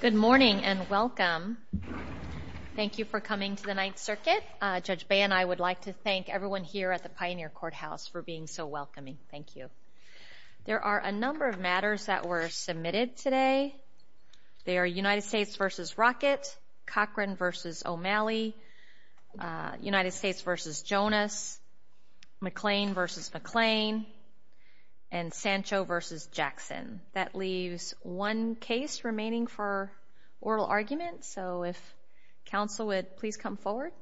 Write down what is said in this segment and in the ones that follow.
Good morning and welcome. Thank you for coming to the Ninth Circuit. Judge Bay and I would like to thank everyone here at the Pioneer Courthouse for being so welcoming. Thank you. There are a number of matters that were submitted today. They are United States v. Rocket, Cochran v. O'Malley, United States v. Jonas, McLean v. McLean, and Sancho v. Jackson. That leaves one case remaining for oral argument, so if counsel would please come forward.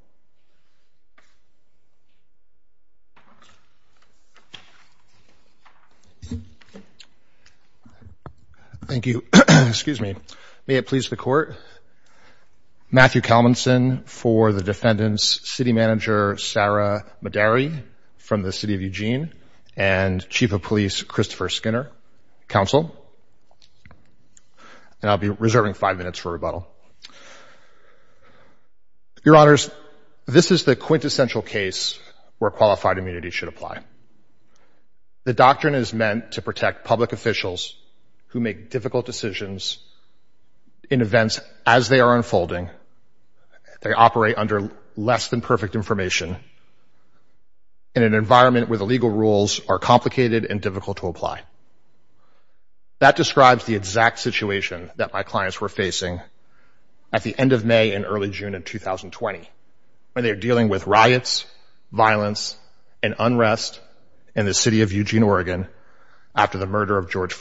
Thank you. May it please the Court. Matthew Kalmanson for the defendants, City Manager Sarah Medary from the City of Eugene, and Chief of Police Christopher Skinner, counsel. And I'll be reserving five minutes for rebuttal. Your Honors, this is the quintessential case where qualified immunity should apply. The doctrine is meant to protect public officials who make difficult decisions in events as they are unfolding, they operate under less than perfect information, in an environment where the legal rules are complicated and difficult to apply. That describes the exact situation that my clients were facing at the end of May and early June of 2020, when they're dealing with riots, violence, and unrest in the city of Eugene, Oregon, after the murder of George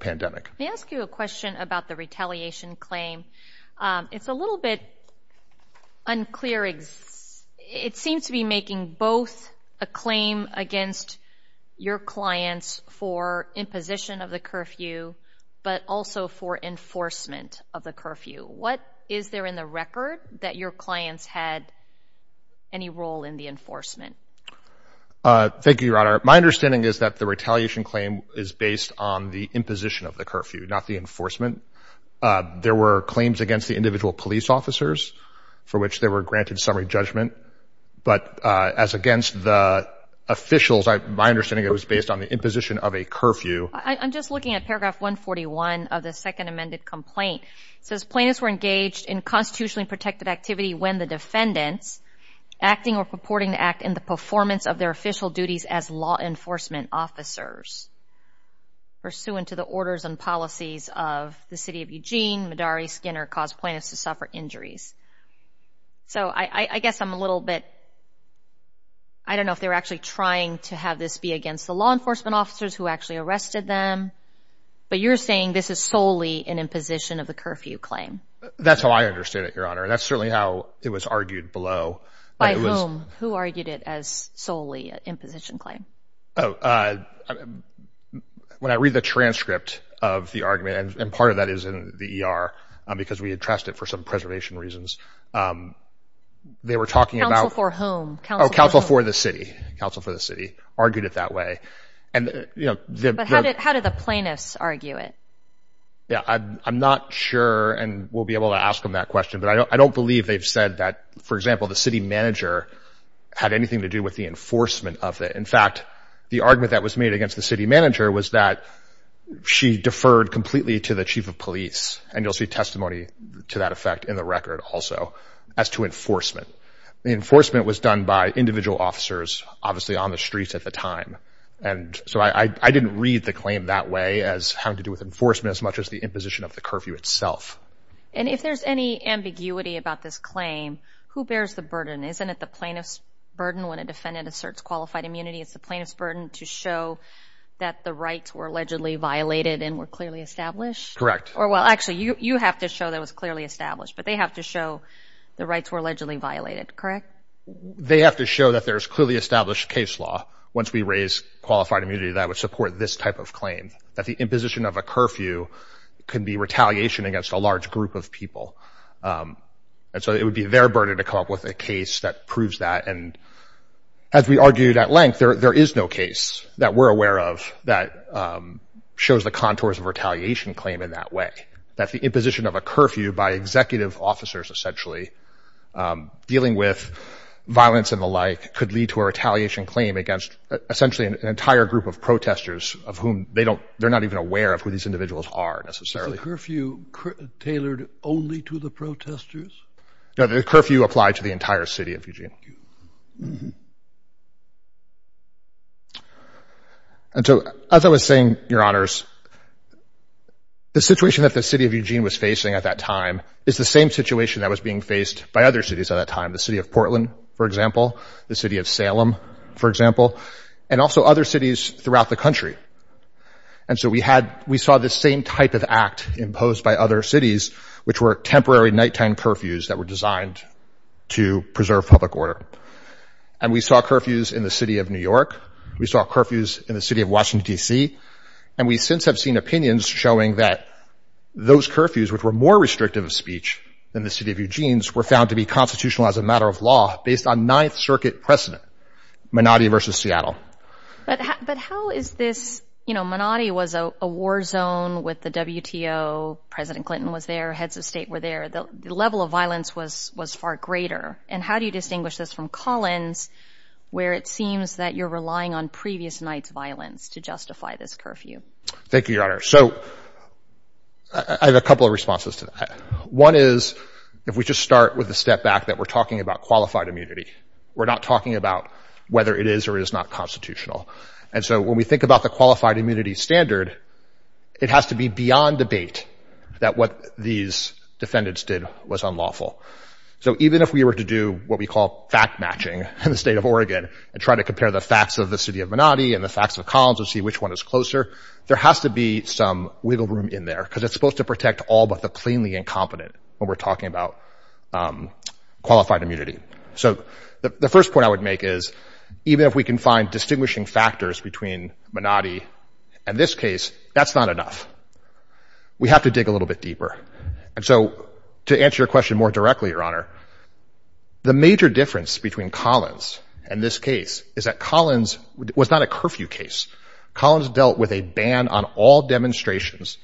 pandemic. May I ask you a question about the retaliation claim? It's a little bit unclear. It seems to be making both a claim against your clients for imposition of the curfew, but also for enforcement of the curfew. What is there in the record that your clients had any role in the enforcement? Thank you, Your the curfew, not the enforcement. There were claims against the individual police officers for which they were granted summary judgment, but as against the officials, my understanding it was based on the imposition of a curfew. I'm just looking at paragraph 141 of the second amended complaint. It says plaintiffs were engaged in constitutionally protected activity when the defendants acting or purporting to act in the performance of their official duties as law enforcement officers. Pursuant to the orders and policies of the city of Eugene, Madari Skinner caused plaintiffs to suffer injuries. So I guess I'm a little bit, I don't know if they were actually trying to have this be against the law enforcement officers who actually arrested them, but you're saying this is solely an imposition of the curfew claim. That's how I understand it your honor. That's certainly how it was argued below. By whom? Who argued it as solely an imposition claim? When I read the transcript of the argument, and part of that is in the ER because we had trusted for some preservation reasons, they were talking about... Council for whom? Council for the city. Council for the city argued it that way. And you know... How did the plaintiffs argue it? Yeah, I'm not sure and we'll be able to ask them that question, but I don't believe they've that, for example, the city manager had anything to do with the enforcement of it. In fact, the argument that was made against the city manager was that she deferred completely to the chief of police, and you'll see testimony to that effect in the record also, as to enforcement. The enforcement was done by individual officers, obviously on the streets at the time, and so I didn't read the claim that way as having to do with enforcement as much as the imposition of curfew itself. And if there's any ambiguity about this claim, who bears the burden? Isn't it the plaintiff's burden when a defendant asserts qualified immunity? It's the plaintiff's burden to show that the rights were allegedly violated and were clearly established? Correct. Or, well, actually, you have to show that was clearly established, but they have to show the rights were allegedly violated, correct? They have to show that there's clearly established case law once we raise qualified immunity that would support this type of claim, that the imposition of a curfew could be retaliation against a large group of people. And so it would be their burden to come up with a case that proves that, and as we argued at length, there is no case that we're aware of that shows the contours of retaliation claim in that way, that the imposition of a curfew by executive officers, essentially, dealing with violence and the like, could lead to a retaliation claim against essentially an entire group of protesters of whom they don't, they're not even aware of who these individuals are, necessarily. So curfew tailored only to the protesters? No, the curfew applied to the entire city of Eugene. And so, as I was saying, Your Honors, the situation that the city of Eugene was facing at that time is the same situation that was being faced by other cities at that time. The city of Portland, for example, the city of Salem, for example, and also other cities throughout the country. And so we had, we saw this same type of act imposed by other cities, which were temporary nighttime curfews that were designed to preserve public order. And we saw curfews in the city of New York, we saw curfews in the city of Washington, DC, and we since have seen opinions showing that those curfews, which were more restrictive of speech than the city of Eugene's, were found to be constitutional as a matter of law based on Ninth Circuit precedent, Menotti versus Seattle. But how is this, you know, Menotti was a war zone with the WTO, President Clinton was there, heads of state were there, the level of violence was was far greater. And how do you distinguish this from Collins, where it seems that you're relying on previous nights violence to justify this curfew? Thank you, Your Honor. So I have a couple of responses to that. One is, if we just start with a step back that we're talking about qualified immunity. We're not talking about whether it is or is not constitutional. And so when we think about the qualified immunity standard, it has to be beyond debate that what these defendants did was unlawful. So even if we were to do what we call fact-matching in the state of Oregon and try to compare the facts of the city of Menotti and the facts of Collins and see which one is closer, there has to be some wiggle room in there because it's supposed to protect all but the cleanly incompetent when we're talking about qualified immunity. So the first point I would make is, even if we can find distinguishing factors between Menotti and this case, that's not enough. We have to dig a little bit deeper. And so to answer your question more directly, Your Honor, the major difference between Collins and this case is that Collins was not a curfew case. Collins dealt with a ban on all demonstrations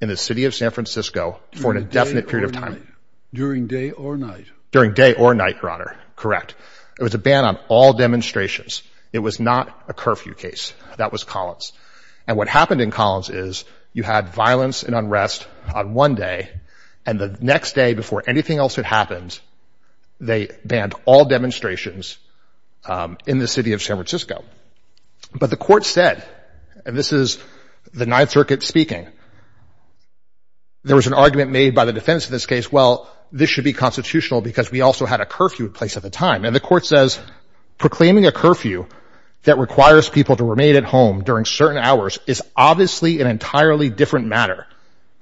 in the city of San Francisco for an indefinite period of time. During day or night? During day or night, Your Honor. Correct. It was a ban on all demonstrations. It was not a curfew case. That was Collins. And what happened in Collins is you had violence and unrest on one day, and the next day before anything else had happened, they banned all demonstrations in the city of San Francisco. But the Court said, and this is the Ninth Circuit speaking, there was an argument made by the defense in this case, well, this should be constitutional because we also had a curfew in place at the time. And the Court says, proclaiming a curfew that requires people to remain at home during certain hours is obviously an entirely different matter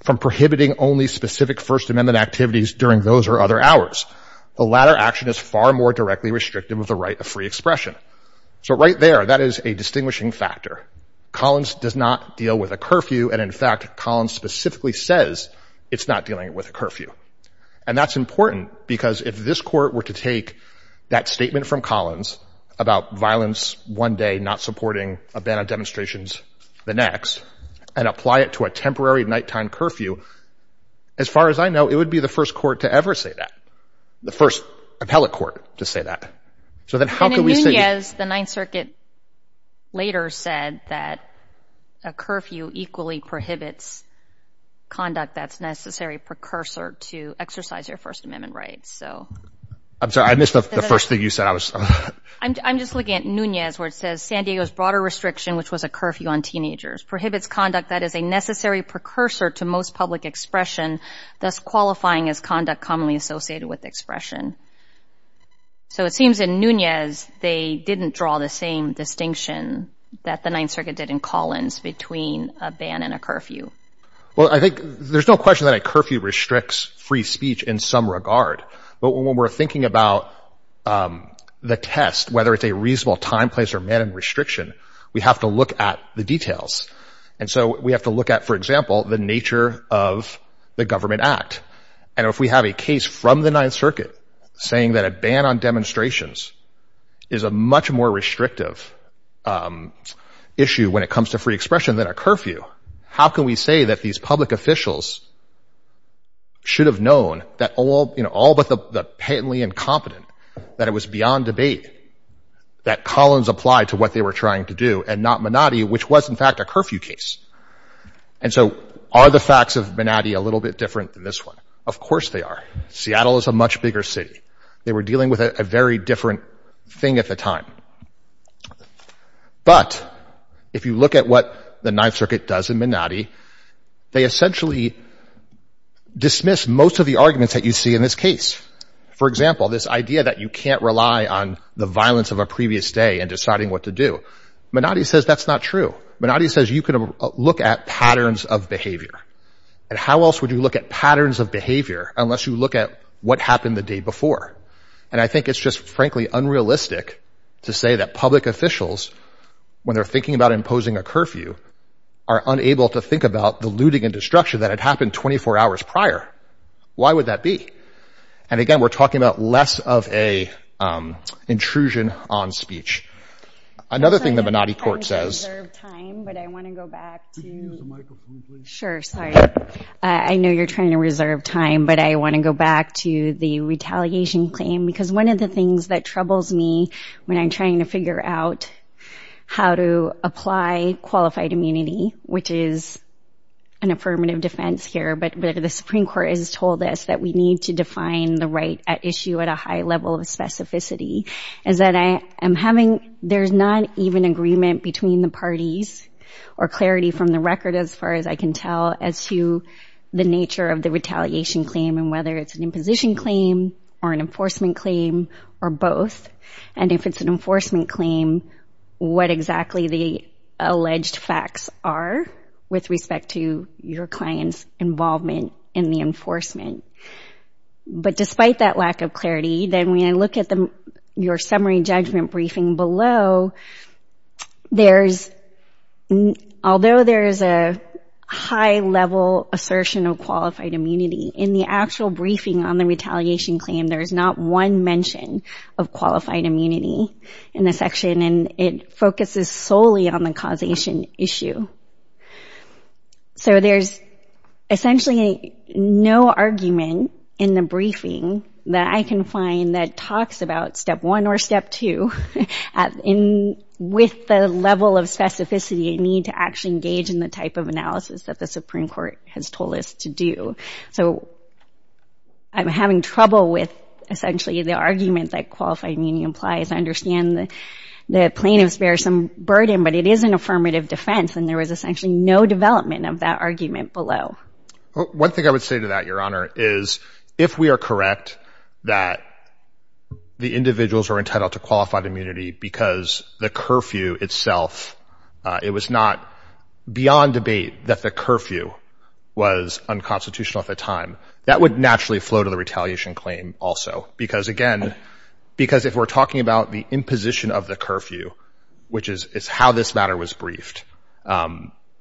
from prohibiting only specific First Amendment activities during those or other hours. The latter action is far more directly restrictive of the right of free expression. So right there, that is a distinguishing factor. Collins does not deal with a curfew, and in fact, Collins specifically says it's not dealing with a curfew. And that's important because if this Court were to take that statement from Collins about violence one day not supporting a ban on demonstrations the next, and apply it to a temporary nighttime curfew, as far as I know, it would be the first Court to ever say that. The first appellate Court to say that. And in Nunez, the Ninth Circuit later said that a curfew equally prohibits conduct that's necessary precursor to exercise your First Amendment rights. I'm sorry, I missed the first thing you said. I'm just looking at Nunez, where it says, San Diego's broader restriction, which was a curfew on teenagers, prohibits conduct that is a necessary precursor to most public expression, thus qualifying as conduct commonly associated with public expression. So it seems in Nunez, they didn't draw the same distinction that the Ninth Circuit did in Collins between a ban and a curfew. Well, I think there's no question that a curfew restricts free speech in some regard, but when we're thinking about the test, whether it's a reasonable time, place, or man and restriction, we have to look at the details. And so we have to look at, for example, the nature of the government act. And if we have a case from the Ninth Circuit saying that a ban on demonstrations is a much more restrictive issue when it comes to free expression than a curfew, how can we say that these public officials should have known that all, you know, all but the patently incompetent, that it was beyond debate, that Collins applied to what they were trying to do, and not Menotti, which was in fact a curfew case. And so are the facts of Menotti a little bit different than this one? Of course they are. Seattle is a much bigger city. They were dealing with a very different thing at the time. But if you look at what the Ninth Circuit does in Menotti, they essentially dismiss most of the arguments that you see in this case. For example, this idea that you can't rely on the violence of a previous day in deciding what to do. Menotti says that's not true. Menotti says you can look at patterns of behavior. And how else would you look at patterns of behavior unless you look at what happened the day before? And I think it's just frankly unrealistic to say that public officials, when they're thinking about imposing a curfew, are unable to think about the looting and destruction that had happened 24 hours prior. Why would that be? And again, we're talking about less of a intrusion on speech. Another thing that Menotti Court says... I know you're trying to reserve time, but I want to go back to the retaliation claim. Because one of the things that troubles me when I'm trying to figure out how to apply qualified immunity, which is an affirmative defense here, but the Supreme Court has told us that we need to define the right at issue at a high level of specificity, is that there's not even agreement between the parties or clarity from the record, as far as I can tell, as to the nature of the retaliation claim and whether it's an imposition claim or an enforcement claim or both. And if it's an enforcement claim, what exactly the alleged facts are with respect to your client's involvement in the enforcement. But despite that lack of clarity, then when I look at your summary judgment briefing below, although there is a high-level assertion of qualified immunity, in the actual briefing on the retaliation claim, there is not one mention of qualified immunity in the section, and it focuses solely on the retaliation issue. So there's essentially no argument in the briefing that I can find that talks about step one or step two, and with the level of specificity you need to actually engage in the type of analysis that the Supreme Court has told us to do. So I'm having trouble with essentially the argument that qualified immunity implies. I understand the plaintiffs bear some burden, but it is an affirmative defense, and there was essentially no development of that argument below. One thing I would say to that, Your Honor, is if we are correct that the individuals are entitled to qualified immunity because the curfew itself, it was not beyond debate that the curfew was unconstitutional at the time, that would naturally flow to the retaliation claim also. Because again, because if we're talking about the imposition of the curfew, which is how this matter was briefed,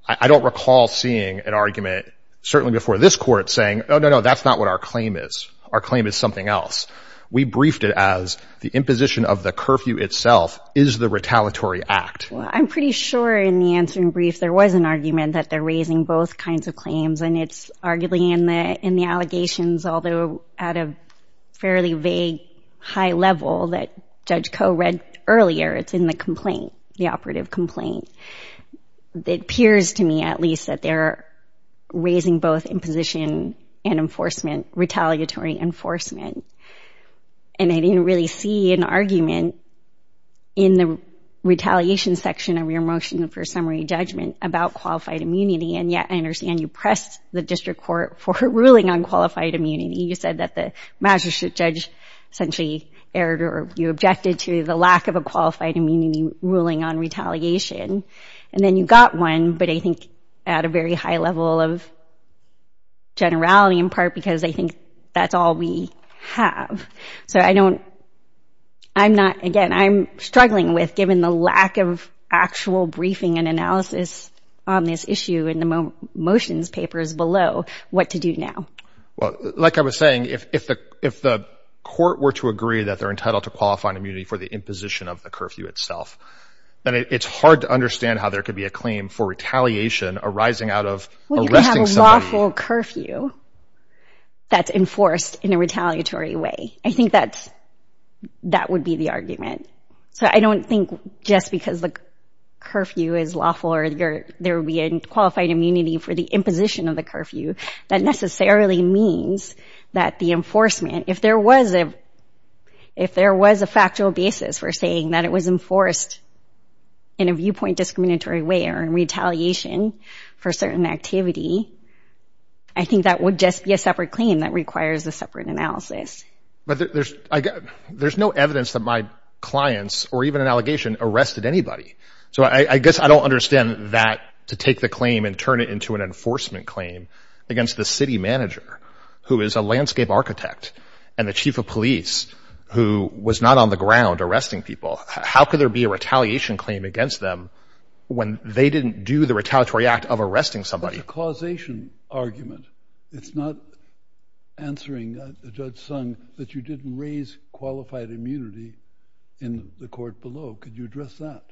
I don't recall seeing an argument, certainly before this court, saying, oh no, no, that's not what our claim is. Our claim is something else. We briefed it as the imposition of the curfew itself is the retaliatory act. I'm pretty sure in the answering brief there was an argument that they're raising both kinds of claims, and it's arguably in the in the allegations, although at a fairly vague high level that Judge Koh read earlier, it's in the complaint, the operative complaint. It appears to me at least that they're raising both imposition and enforcement, retaliatory enforcement, and I didn't really see an argument in the retaliation section of your motion for summary judgment about qualified immunity, and yet I understand you pressed the district court for a ruling on qualified immunity. You said that the magistrate judge essentially erred, or you objected to the lack of a qualified immunity ruling on retaliation, and then you got one, but I think at a very high level of generality in part because I think that's all we have. So I don't, I'm not, again, I'm struggling with, given the lack of actual briefing and analysis on this issue in the motions papers below, what to do now. Well, like I was saying, if the if the court were to agree that they're entitled to qualified immunity for the imposition of the curfew itself, then it's hard to understand how there could be a claim for retaliation arising out of arresting somebody. Well, you could have a lawful curfew that's enforced in a retaliatory way. I think that that would be the argument. So I don't think just because the curfew is lawful or there would be a qualified immunity for the imposition of the curfew, that necessarily means that the enforcement, if there was a, if there was a factual basis for saying that it was enforced in a viewpoint discriminatory way or in retaliation for certain activity, I think that would just be a separate claim that requires a separate analysis. But there's, there's no evidence that my clients or even an allegation arrested anybody. So I guess I don't understand that to take the claim and turn it into an enforcement claim against the city manager, who is a landscape architect, and the chief of police, who was not on the ground arresting people. How could there be a retaliation claim against them when they didn't do the retaliatory act of arresting somebody? That's a causation argument. It's not answering, Judge Sung, that you didn't raise qualified immunity in the court below. Could you address that?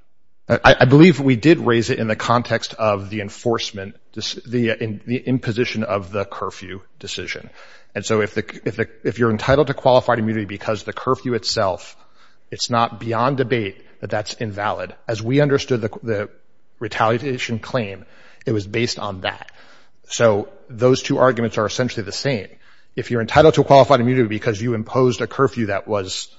I believe we did raise it in the context of the enforcement, the imposition of the curfew decision. And so if the, if you're entitled to qualified immunity because the curfew itself, it's not beyond debate that that's invalid. As we understood the retaliation claim, it was based on that. So those two arguments are essentially the same. If you're entitled to a qualified immunity because you imposed a curfew that was,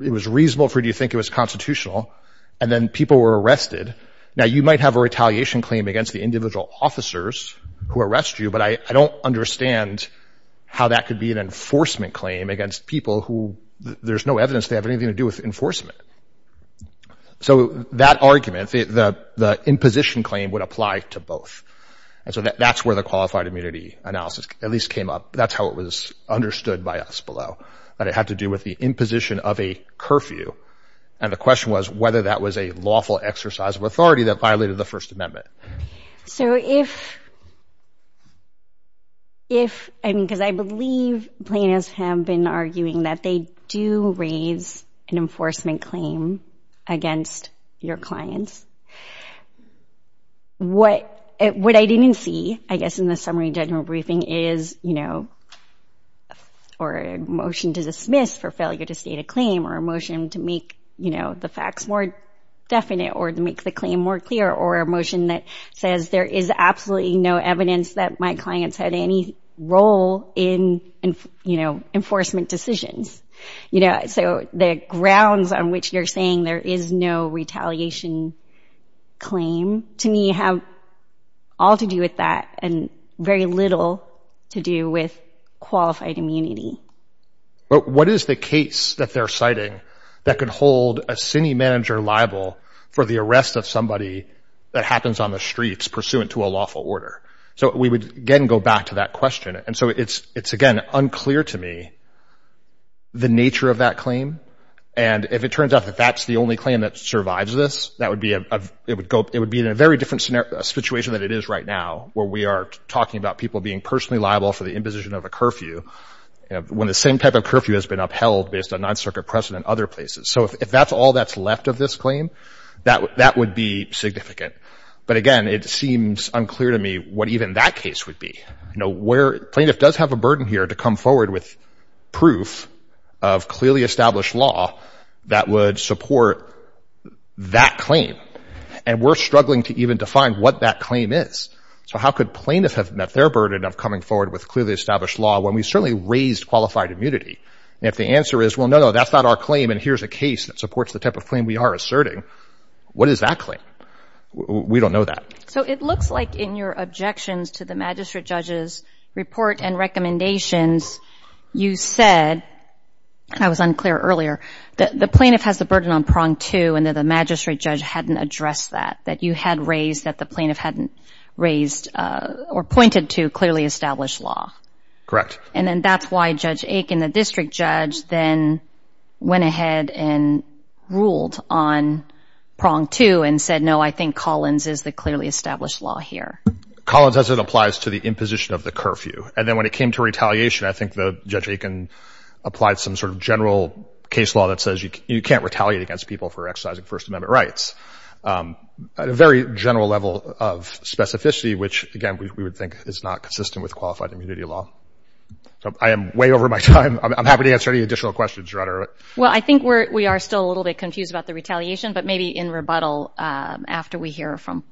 it was reasonable for you to think it was constitutional, and then people were arrested, now you might have a retaliation claim against the individual officers who arrest you, but I don't understand how that could be an enforcement claim against people who, there's no evidence they have anything to do with enforcement. So that argument, the imposition claim, would apply to both. And so that's where the qualified immunity analysis at least came up. That's how it was understood by us below, that it had to do with the imposition of a curfew. And the question was whether that was a lawful exercise of authority that violated the First Amendment. So if, if, I mean, because I believe plaintiffs have been arguing that they do raise an enforcement claim against your clients. What, what I didn't see, I guess in the summary judgment briefing is, you know, or a motion to dismiss for failure to state a claim, or a motion to make, you know, the facts more definite, or to make the claim more clear, or a motion that says there is absolutely no evidence that my clients had any role in, you know, enforcement decisions. You know, so the grounds on which you're saying there is no retaliation claim to me have all to do with that, and very little to do with qualified immunity. But what is the case that they're citing that could hold a CINI manager liable for the arrest of somebody that happens on the streets pursuant to a lawful order? So we would, again, go back to that question. And so it's, it's, again, unclear to me the nature of that claim. And if it turns out that that's the only claim that survives this, that would be a, it would go, it would be in a very different scenario, a situation that it is right now, where we are talking about people being personally liable for the imposition of a curfew, when the same type of curfew has been upheld based on Ninth Circuit precedent other places. So if that's all that's left of this claim, that, that would be significant. But again, it seems unclear to me what even that case would be. You know, where, plaintiff does have a burden here to come forward with proof of clearly established law that would support that claim. And we're struggling to even define what that claim is. So how could plaintiffs have met their burden of coming forward with clearly established law when we certainly raised qualified immunity? If the answer is, well, no, no, that's not our claim, and here's a case that supports the type of claim we are asserting, what is that claim? We don't know that. So it looks like in your objections to the magistrate judge's report and recommendations, you said, I was unclear earlier, that the plaintiff has the burden on prong two and that the magistrate judge hadn't addressed that, that you had raised that the plaintiff hadn't raised or pointed to clearly established law. Correct. And then that's why Judge Aiken, the district judge, then went ahead and ruled on prong two and said, no, I think Collins is the clearly position of the curfew. And then when it came to retaliation, I think the judge Aiken applied some sort of general case law that says you can't retaliate against people for exercising First Amendment rights. At a very general level of specificity, which again we would think is not consistent with qualified immunity law. I am way over my time. I'm happy to answer any additional questions. Well, I think we are still a little bit confused about the retaliation, but maybe in rebuttal, after we hear from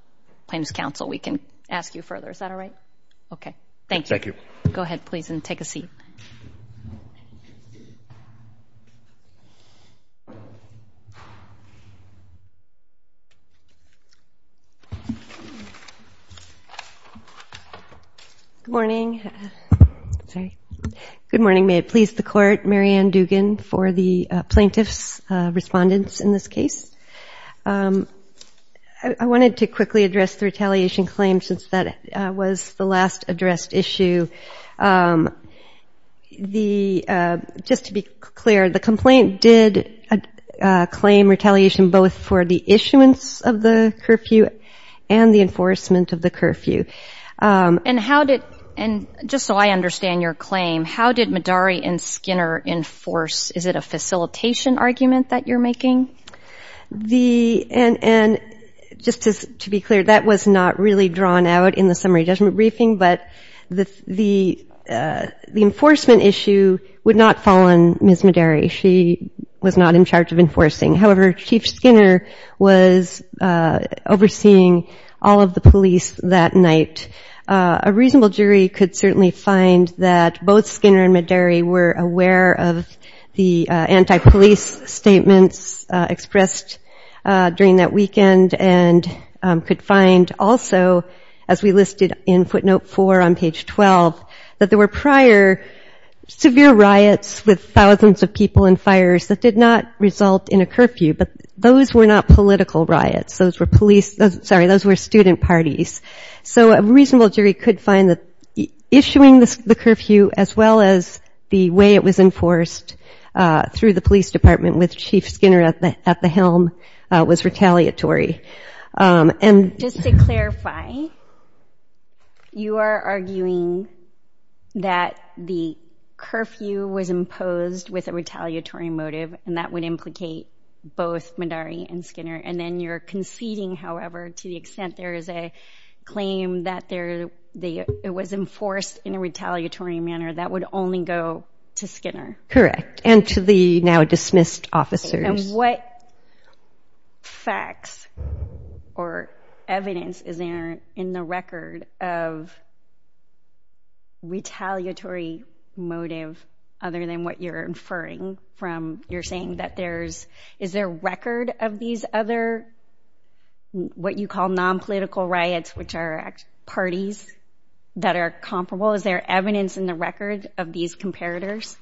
Plaintiffs' Counsel, we can ask you further. Is that all right? Okay. Thank you. Go ahead, please, and take a seat. Good morning. Good morning. May it please the Court, Mary Ann Dugan, for the Plaintiffs' respondents in this case. I wanted to quickly address the retaliation claim, since that was the last addressed issue. The, just to be clear, the complaint did claim retaliation both for the issuance of the curfew and the enforcement of the curfew. And how did, and just so I understand your claim, how did Medari and Skinner enforce, is it a facilitation argument that you're making? The, and just to be clear, that was not really drawn out in the summary judgment briefing, but the enforcement issue would not fall on Ms. Medari. She was not in charge of enforcing. However, Chief Skinner was overseeing all of the police that night. A reasonable jury could certainly find that both Skinner and Medari were aware of the anti-police statements expressed during that weekend and could find also, as we listed in footnote four on page 12, that there were prior severe riots with thousands of people and fires that did not result in a curfew, but those were not political riots. Those were police, sorry, those were student parties. So a reasonable jury could find that issuing the curfew as well as the way it was enforced through the police department with Chief Skinner at the helm was retaliatory. And just to clarify, you are arguing that the curfew was imposed with a retaliatory motive and that would implicate both Medari and Skinner and then you're conceding, however, to the that there is a claim that it was enforced in a retaliatory manner that would only go to Skinner? Correct, and to the now dismissed officers. And what facts or evidence is there in the record of retaliatory motive other than what you're inferring from, you're saying that there's, is there record of these other what you call non-political riots which are parties that are comparable? Is there evidence in the record of these comparators?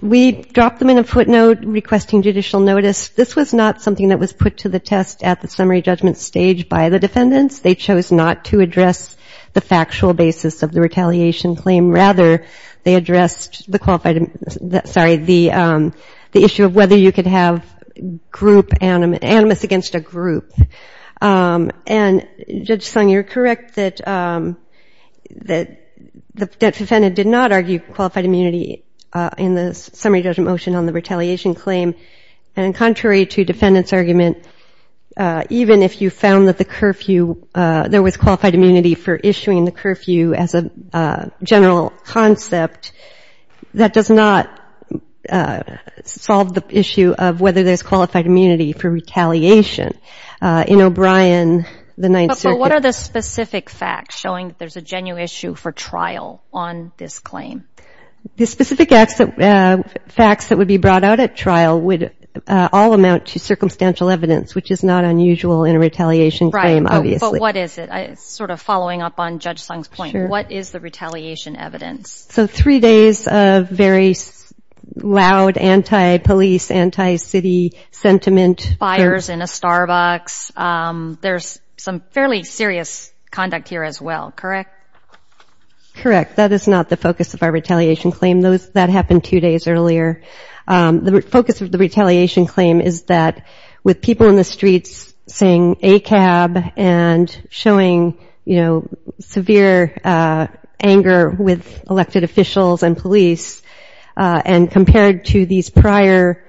We dropped them in a footnote requesting judicial notice. This was not something that was put to the test at the summary judgment stage by the defendants. They chose not to address the factual basis of the retaliation claim. Rather, they addressed the qualified, sorry, the issue of whether you could have group animus, animus against a group. And Judge Sung, you're correct that the defendant did not argue qualified immunity in the summary judgment motion on the retaliation claim. And contrary to defendant's argument, even if you found that the curfew, there was qualified immunity for issuing the curfew as a general concept, that does not solve the issue of whether there's qualified immunity for retaliation. In O'Brien, the Ninth Circuit. But what are the specific facts showing there's a genuine issue for trial on this claim? The specific facts that would be brought out at trial would all amount to circumstantial evidence, which is not unusual in a retaliation claim, obviously. But what is it? Sort of following up on Judge Sung's point, what is the retaliation evidence? So three days of very loud anti-police, anti-city sentiment. Fires in a Starbucks. There's some fairly serious conduct here as well, correct? Correct. That is not the focus of our retaliation claim. That happened two days earlier. The focus of the retaliation claim is that with people in the streets saying ACAB and showing severe anger with elected officials and police, and compared to these prior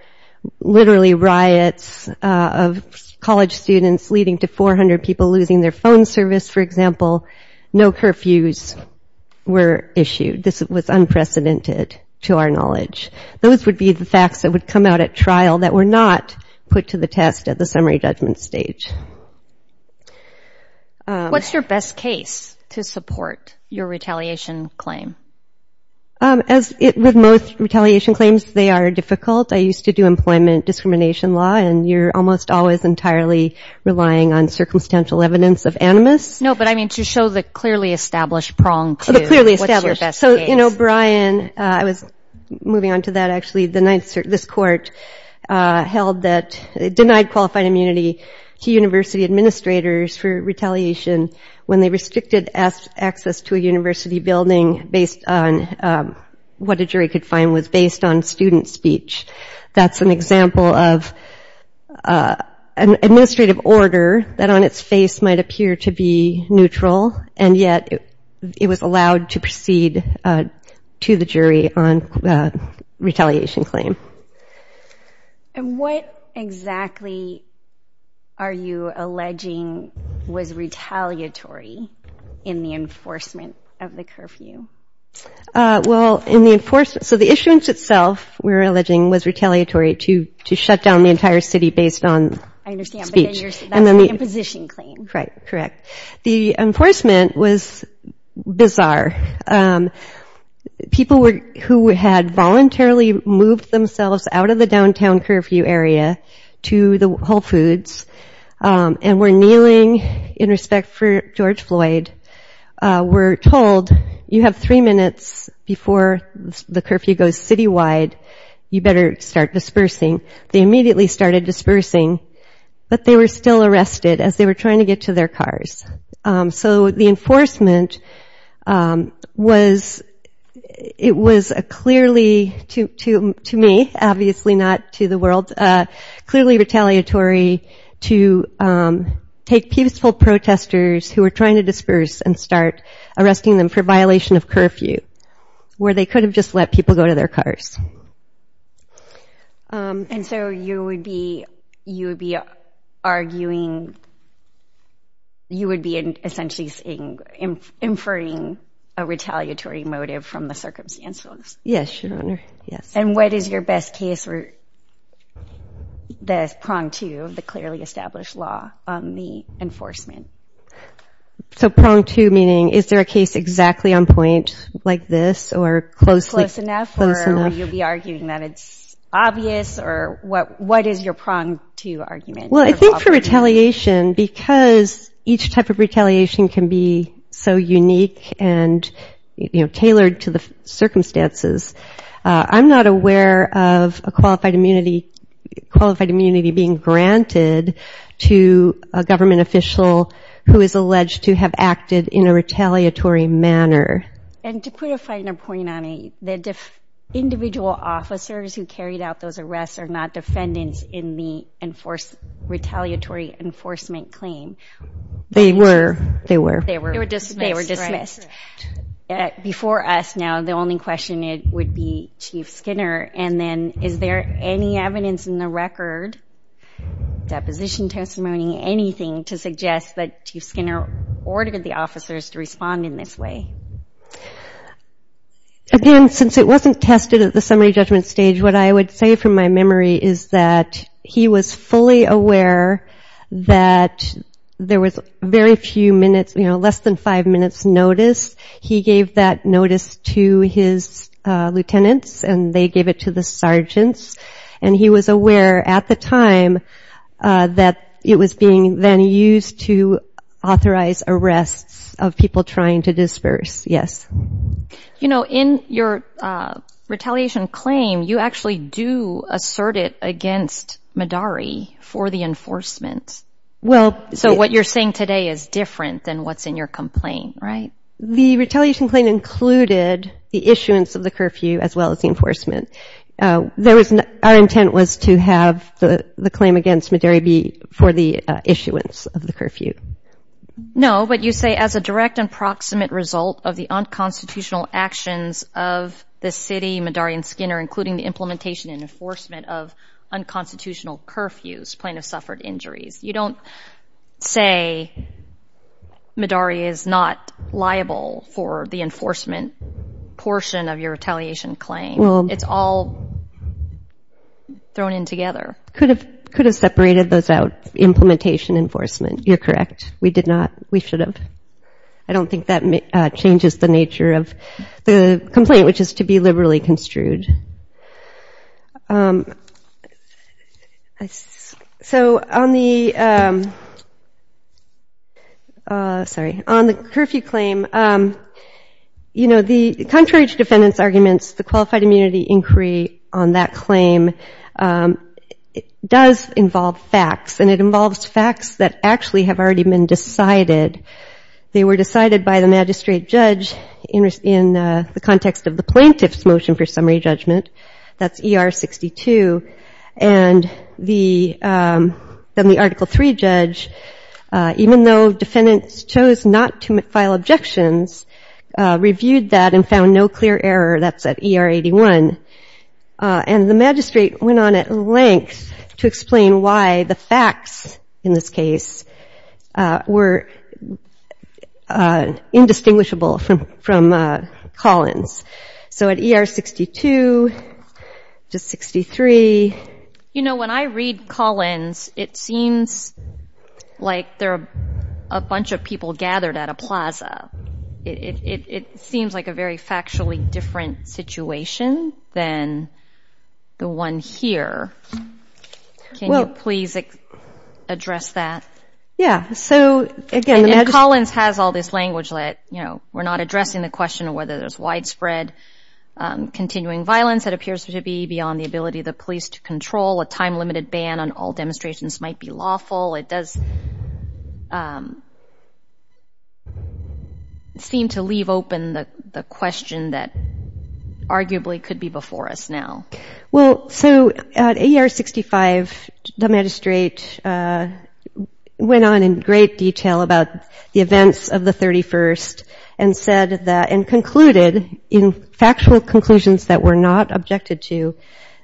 literally riots of college students leading to 400 people losing their phone service, for example, no curfews were issued. This was unprecedented to our knowledge. Those would be the facts that would come out at trial that were not put to the test at the summary judgment stage. What's your best case to support your retaliation claim? As with most retaliation claims, they are difficult. I used to do employment discrimination law, and you're almost always entirely relying on circumstantial evidence of animus. No, but I mean to show the clearly established prong. So you know, Brian, I was moving on to that actually. This court denied qualified immunity to university administrators for retaliation when they restricted access to a university building based on what a jury could find was based on student speech. That's an example of an administrative order that on its face might appear to be neutral, and yet it was allowed to proceed to the jury on retaliation claim. And what exactly are you alleging was retaliatory in the enforcement of the curfew? Well, in the enforcement, so the issuance itself we're alleging was retaliatory to to shut down the entire city based on speech. And then the imposition claim. Right, correct. The enforcement was bizarre. People who had voluntarily moved themselves out of the downtown curfew area to the Whole Foods and were kneeling in respect for George Floyd were told, you have three minutes before the curfew goes citywide, you start dispersing. They immediately started dispersing, but they were still arrested as they were trying to get to their cars. So the enforcement was, it was a clearly, to me, obviously not to the world, clearly retaliatory to take peaceful protesters who were trying to disperse and start arresting them for curfew, where they could have just let people go to their cars. And so you would be, you would be arguing, you would be essentially inferring a retaliatory motive from the circumstances? Yes, Your Honor, yes. And what is your best case or the prong to the clearly established law on the enforcement? So prong to meaning, is there a case exactly on point like this or close enough? You'll be arguing that it's obvious or what, what is your prong to argument? Well, I think for retaliation, because each type of retaliation can be so unique and, you know, tailored to the circumstances, I'm not aware of a qualified immunity, qualified immunity being granted to a government official who is alleged to have acted in a retaliatory manner. And to put a finer point on it, the individual officers who carried out those arrests are not defendants in the enforce, retaliatory enforcement claim? They were, they were. They were dismissed. Before us now, the only question it would be Chief Skinner, and then is there any evidence in the record, deposition, testimony, anything to suggest that Chief Skinner ordered the officers to respond in this way? Again, since it wasn't tested at the summary judgment stage, what I would say from my memory is that he was fully aware that there was very few minutes, you know, less than five minutes notice. He gave that notice to his lieutenants and they gave it to the sergeants, and he was aware at the time that it was being then used to authorize arrests of people trying to disperse, yes. You know, in your retaliation claim, you actually do assert it against Medari for the enforcement. Well, so what you're saying today is different than what's in your complaint, right? The retaliation claim included the issuance of the curfew as well as the enforcement. There was, our intent was to have the claim against Medari be for the issuance of the curfew. No, but you say as a direct and proximate result of the unconstitutional actions of the city, Medari and Skinner, including the implementation and enforcement of unconstitutional curfews, plaintiffs suffered injuries. You don't say Medari is not liable for the enforcement portion of your retaliation claim. Well, it's all thrown in together. Could have separated those out, implementation, enforcement. You're correct. We did not. We should have. I don't think that changes the nature of the complaint, which is to be liberally construed. So on the, sorry, on the curfew claim, you know, the contrary to defendants' arguments, the on that claim, it does involve facts and it involves facts that actually have already been decided. They were decided by the magistrate judge in the context of the plaintiff's motion for summary judgment. That's ER 62. And the, then the Article III judge, even though defendants chose not to file objections, reviewed that and found no clear error. That's at ER 81. And the magistrate went on at length to explain why the facts in this case were indistinguishable from, from Collins. So at ER 62 to 63. You know, when I read Collins, it seems like there are a bunch of people gathered at a plaza. It seems like a very factually different situation than the one here. Can you please address that? Yeah. So again, Collins has all this language that, you know, we're not addressing the question of whether there's widespread continuing violence that appears to be beyond the ability of the police to control. A time-limited ban on all demonstrations might be lawful. It does seem to leave open the question that arguably could be before us now. Well, so at ER 65, the magistrate went on in great detail about the events of the 31st and said that, and concluded in factual conclusions that were not objected to,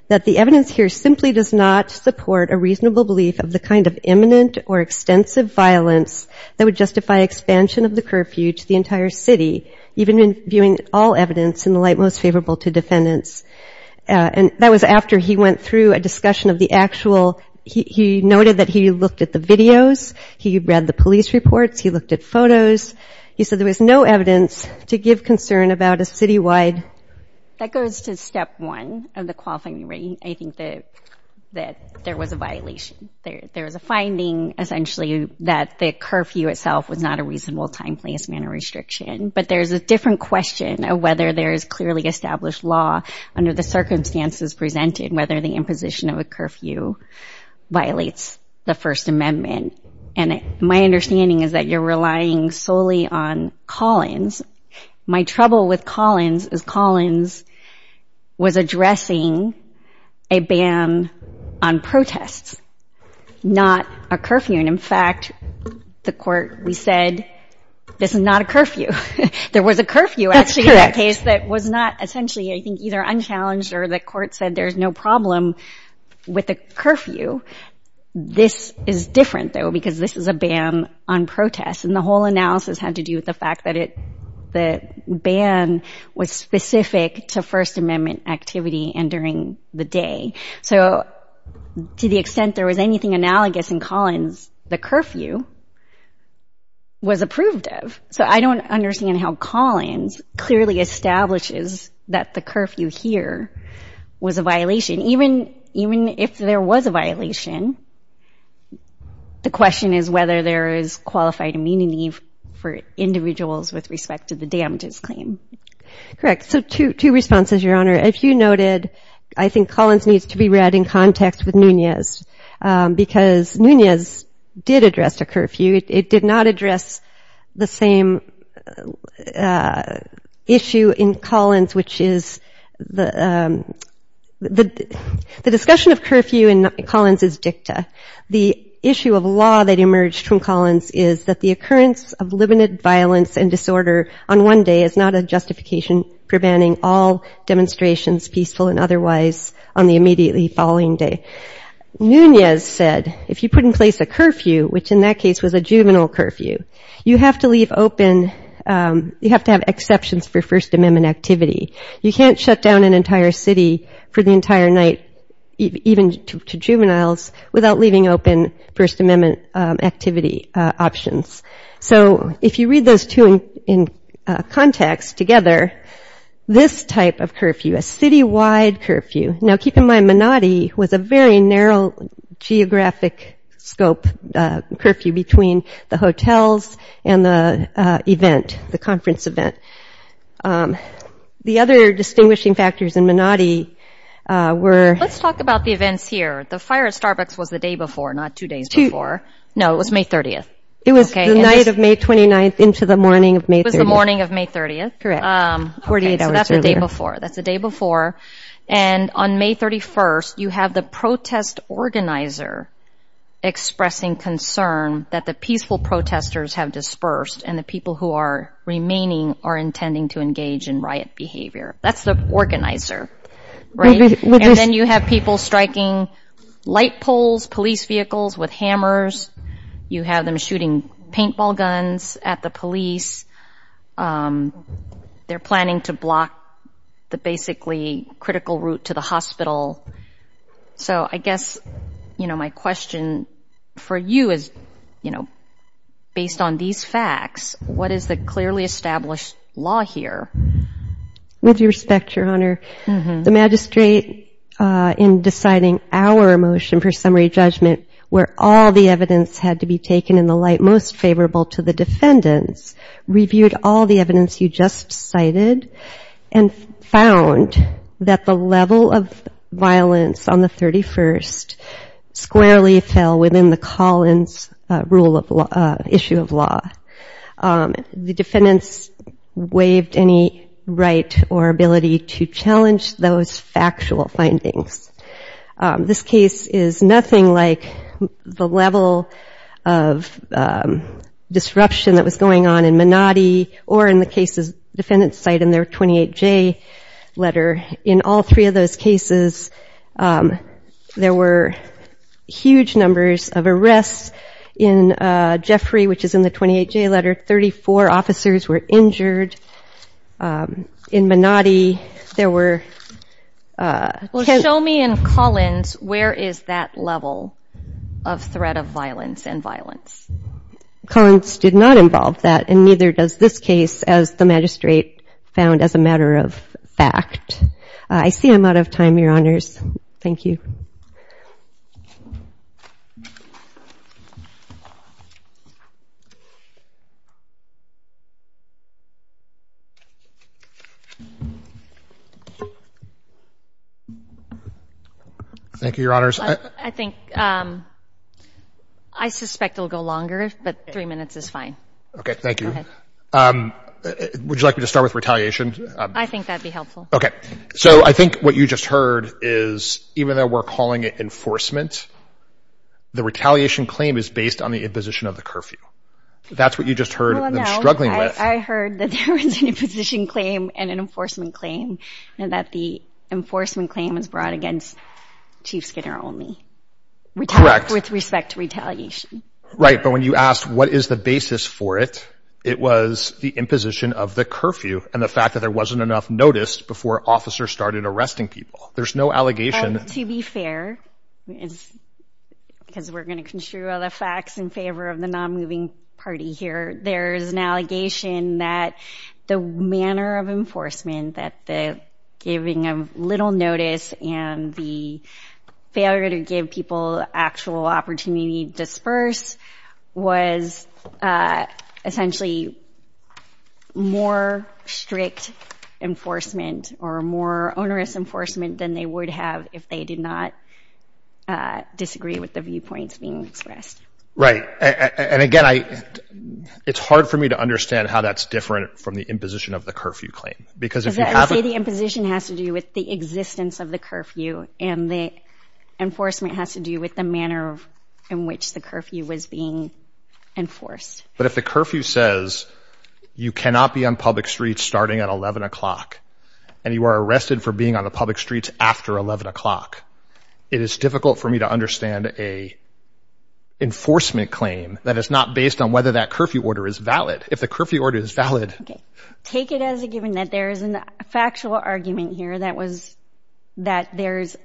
that the evidence here simply does not support a reasonable belief of the kind of imminent or extensive violence that would justify expansion of the curfew to the entire city, even in viewing all evidence in the light most favorable to defendants. And that was after he went through a discussion of the actual, he noted that he looked at the videos, he read the police reports, he looked at photos. He said there was no evidence to give concern about a citywide. That goes to step one of the qualifying I think that there was a violation. There was a finding essentially that the curfew itself was not a reasonable time, place, manner restriction. But there's a different question of whether there is clearly established law under the circumstances presented, whether the imposition of a curfew violates the First Amendment. And my understanding is that you're relying solely on Collins. My addressing a ban on protests, not a curfew. And in fact, the court, we said this is not a curfew. There was a curfew actually in that case that was not essentially I think either unchallenged or the court said there's no problem with the curfew. This is different though because this is a ban on protests. And the whole analysis had to do with the fact that it, the ban was specific to First Amendment activity and during the day. So to the extent there was anything analogous in Collins, the curfew was approved of. So I don't understand how Collins clearly establishes that the curfew here was a violation. Even, even if there was a violation, the question is whether there is qualified immunity for individuals with respect to the damages claim. Correct. So two, two responses, Your Honor. As you noted, I think Collins needs to be read in context with Nunez because Nunez did address a curfew. It did not address the same issue in Collins, which is the, the discussion of curfew in Collins is dicta. The issue of law that emerged from Collins is that the occurrence of limited violence and disorder on one day is not a justification for banning all demonstrations, peaceful and otherwise, on the immediately following day. Nunez said if you put in place a curfew, which in that case was a juvenile curfew, you have to leave open, you have to have exceptions for First Amendment activity. You can't shut down an entire city for the entire night, even to juveniles, without leaving open First Amendment activity options. So if you read those two in context together, this type of curfew, a citywide curfew, now keep in mind Menotti was a very narrow geographic scope curfew between the hotels and the event, the conference event. The other distinguishing factors in Menotti were... Let's talk about the events here. The fire at Starbucks was the day before, not two days before. No, it was May 30th. It was the night of May 29th into the morning of May 30th. It was the morning of May 30th. Correct. 48 hours earlier. So that's the day before. That's the day before. And on May 31st, you have the protest organizer expressing concern that the peaceful protesters have dispersed and the people who are remaining are intending to engage in riot behavior. That's the organizer, right? And then you have people striking light poles, police vehicles with hammers. You have them shooting paintball guns at the police. They're planning to block the basically critical route to the hospital. So I guess, you know, my question for you is, you know, based on these facts, what is the established law here? With your respect, Your Honor, the magistrate in deciding our motion for summary judgment, where all the evidence had to be taken in the light most favorable to the defendants, reviewed all the evidence you just cited and found that the level of violence on the 31st squarely fell within the Collins rule of law, issue of law. The defendants waived any right or ability to challenge those factual findings. This case is nothing like the level of disruption that was going on in Manatee or in the cases defendants cite in their 28J letter. In all three of those cases, there were huge numbers of arrests. In Jeffrey, which is in the 28J letter, 34 officers were injured. In Manatee, there were... Well, show me in Collins, where is that level of threat of violence and violence? Collins did not involve that, and neither does this case, as the magistrate found as a matter of fact. I see I'm out of time, Your Honors. Thank you. Thank you, Your Honors. I think, I suspect it'll go longer, but three minutes is fine. Okay, thank you. Would you like me to start with retaliation? I think that'd be helpful. Okay. So I think what you just heard is, even though we're calling it enforcement, the retaliation claim is based on the imposition of the curfew. That's what you just heard them struggling with. I heard that there was an imposition claim and an enforcement claim, and that the enforcement claim was brought against Chief Skinner only. Correct. With respect to retaliation. Right, but when you asked what is the basis for it, it was the imposition of the curfew, and the fact that there wasn't enough notice before officers started arresting people. There's no allegation. To be fair, because we're going to construe all the facts in favor of the non-moving party here, there's an allegation that the manner of enforcement, that the giving of little notice, and the failure to give people actual opportunity to disperse, was essentially a more strict enforcement, or more onerous enforcement than they would have if they did not disagree with the viewpoints being expressed. Right. And again, it's hard for me to understand how that's different from the imposition of the curfew claim. Because the imposition has to do with the existence of the curfew, and the enforcement has to do with the manner in which the curfew was being enforced. But if the curfew says you cannot be on public streets starting at 11 o'clock, and you are arrested for being on the public streets after 11 o'clock, it is difficult for me to understand a enforcement claim that is not based on whether that curfew order is valid. If the curfew order is valid... Okay, take it as a given that there is a factual argument here that was, that there's,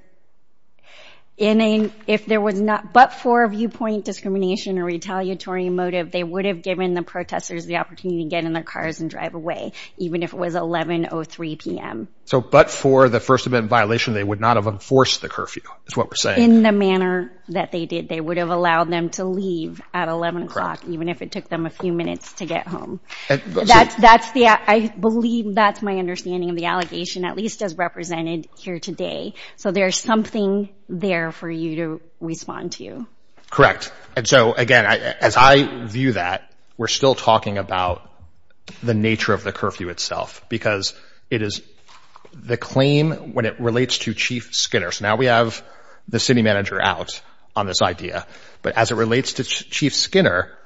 if there was not but for viewpoint discrimination or retaliatory motive, they would have given the protesters the opportunity to get in their cars and drive away, even if it was 11.03 p.m. So but for the first event violation, they would not have enforced the curfew, is what we're saying. In the manner that they did, they would have allowed them to leave at 11 o'clock, even if it took them a few minutes to get home. That's the, I believe that's my understanding of the allegation, at least as represented here today. So there's something there for you to respond to. Correct. And so again, as I view that, we're still talking about the nature of the curfew itself, because it is the claim when it relates to Chief Skinner. So now we have the city manager out on this idea. But as it relates to Chief Skinner,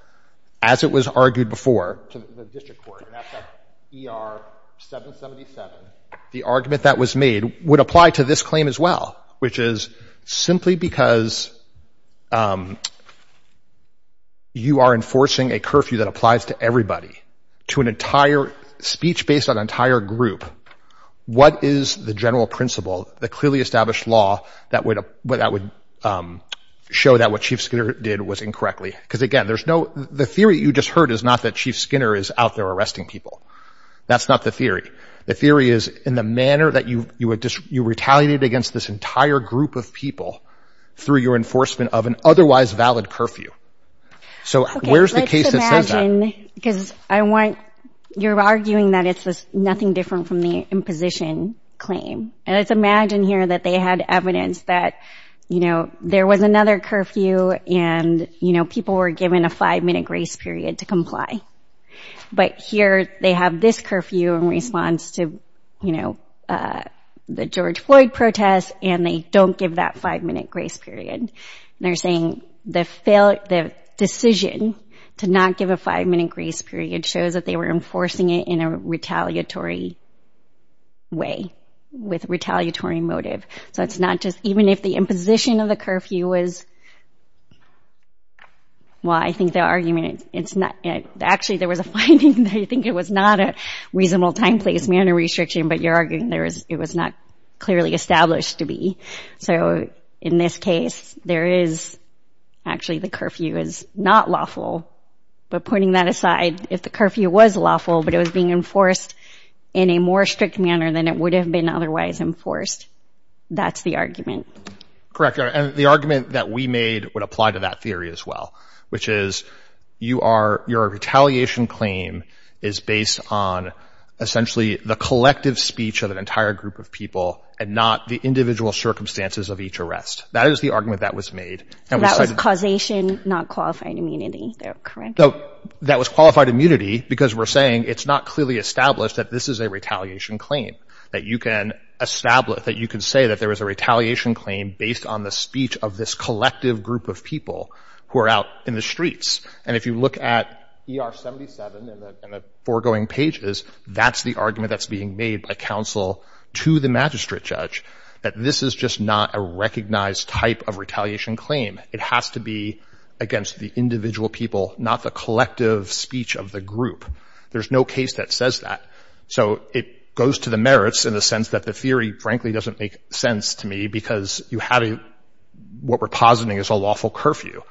as it was argued before to the district court in SFER-777, the argument that was made would apply to this claim as well, which is simply because you are enforcing a curfew that applies to everybody, to an entire speech based on an entire group. What is the general principle, the clearly established law, that would show that what Chief Skinner did was incorrectly? Because again, the theory you just heard is not that Chief Skinner is out there arresting people. That's not the theory. The theory is in the manner that you retaliated against this entire group of people through your enforcement of an otherwise valid curfew. So where's the case that says that? Because you're arguing that it's nothing different from the imposition claim. And let's imagine here that they had evidence that there was another curfew and people were given a five minute grace period to comply. But here they have this curfew in response to the George Floyd protest and they don't give that five minute grace period. They're saying the decision to not give a five minute grace period shows that they were enforcing it in a retaliatory way, with retaliatory motive. So it's not just, even if the imposition of the curfew was, well, I think the argument, it's not, actually, there was a finding that you think it was not a reasonable time, place, manner restriction, but you're arguing it was not clearly established to be. So in this case, there is, actually, the curfew is not lawful. But pointing that aside, if the curfew was lawful, but it was being enforced in a more strict manner than it would have been otherwise enforced, that's the argument. Correct. And the argument that we made would apply to that theory as well, which is your retaliation claim is based on, essentially, the collective speech of an entire group of people and not the individual circumstances of each arrest. That is the argument that was made. So that was causation, not qualified immunity, correct? No, that was qualified immunity because we're saying it's not clearly established that this is a retaliation claim, that you can establish, that you can say that there is a retaliation claim based on the speech of this collective group of people who are out in the streets. And if you look at ER 77 and the foregoing pages, that's the argument that's being made by counsel to the magistrate judge, that this is just not a recognized type of retaliation claim. It has to be against the individual people, not the collective speech of the group. There's no case that says that. So it goes to the merits in the sense that the theory, frankly, doesn't make sense to me because you have what we're positing is a lawful curfew.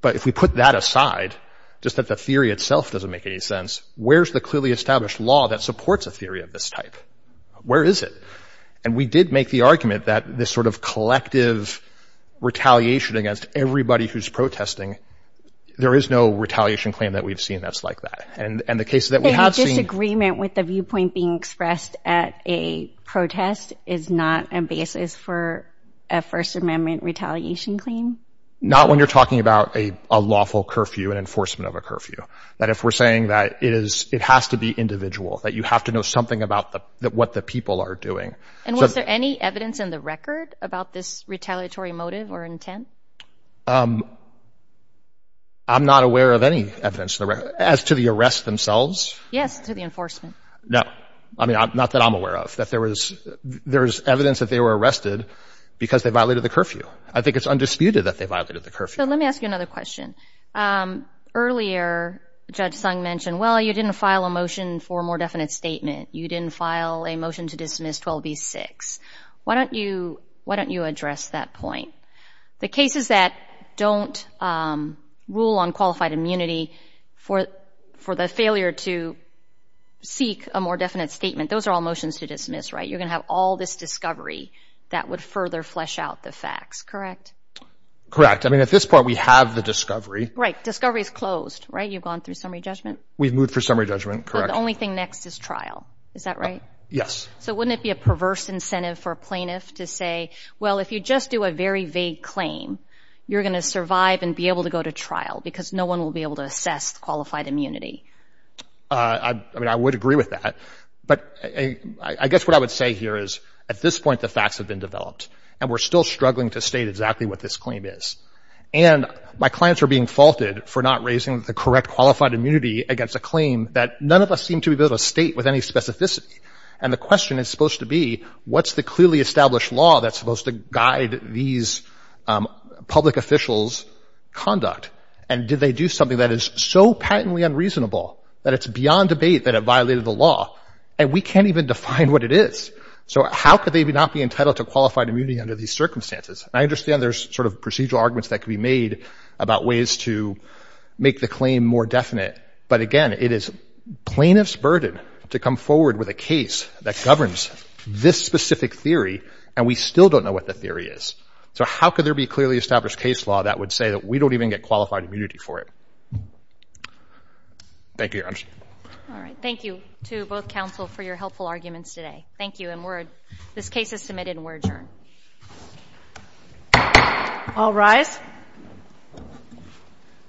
But if we put that aside, just that the theory itself doesn't make any sense, where's the clearly established law that supports a theory of this type? Where is it? And we did make the argument that this sort of collective retaliation against everybody who's protesting, there is no retaliation claim that we've seen that's like that. And the case that we have seen... A disagreement with the viewpoint being expressed at a protest is not a basis for a First Amendment retaliation claim? Not when you're talking about a lawful curfew, an enforcement of a curfew. That if we're saying that it has to be individual, that you have to know something about what the people are doing. And was there any evidence in the record about this retaliatory motive or intent? I'm not aware of any evidence in the record. As to the arrest themselves? Yes, to the enforcement. No. I mean, not that I'm aware of. There's evidence that they were arrested because they violated the curfew. I think it's undisputed that they violated the curfew. Let me ask you another question. Earlier, Judge Sung mentioned, well, you didn't file a motion for a more definite statement. You didn't file a motion to dismiss 12b-6. Why don't you address that point? The cases that don't rule on qualified immunity for the failure to seek a more definite statement, those are all motions to dismiss, right? You're going to have all this discovery that would further flesh out the facts, correct? Correct. I mean, at this point, we have the discovery. Right. Discovery is closed, right? You've gone through summary judgment? We've moved for summary judgment, correct. The only thing next is trial. Is that right? Yes. So wouldn't it be a perverse incentive for a plaintiff to say, well, if you just do a very vague claim, you're going to survive and be able to go to trial because no one will be able to assess the qualified immunity? I mean, I would agree with that. But I guess what I would say here is, at this point, the facts have been developed and we're still struggling to state exactly what this claim is. And my clients are being faulted for not raising the correct qualified immunity against a claim that none of us seem to be able to state with any specificity. And the question is supposed to be, what's the clearly established law that's supposed to guide these public officials' And did they do something that is so patently unreasonable that it's beyond debate that it violated the law? And we can't even define what it is. So how could they not be entitled to qualified immunity under these circumstances? I understand there's sort of procedural arguments that could be made about ways to make the claim more definite. But again, it is plaintiff's burden to come forward with a case that governs this specific theory. And we still don't know what the theory is. So how could there be clearly established case law that would say that we don't even get qualified immunity for it? Thank you, Your Honor. All right. Thank you to both counsel for your helpful arguments today. Thank you. And this case is submitted and we're adjourned. All rise.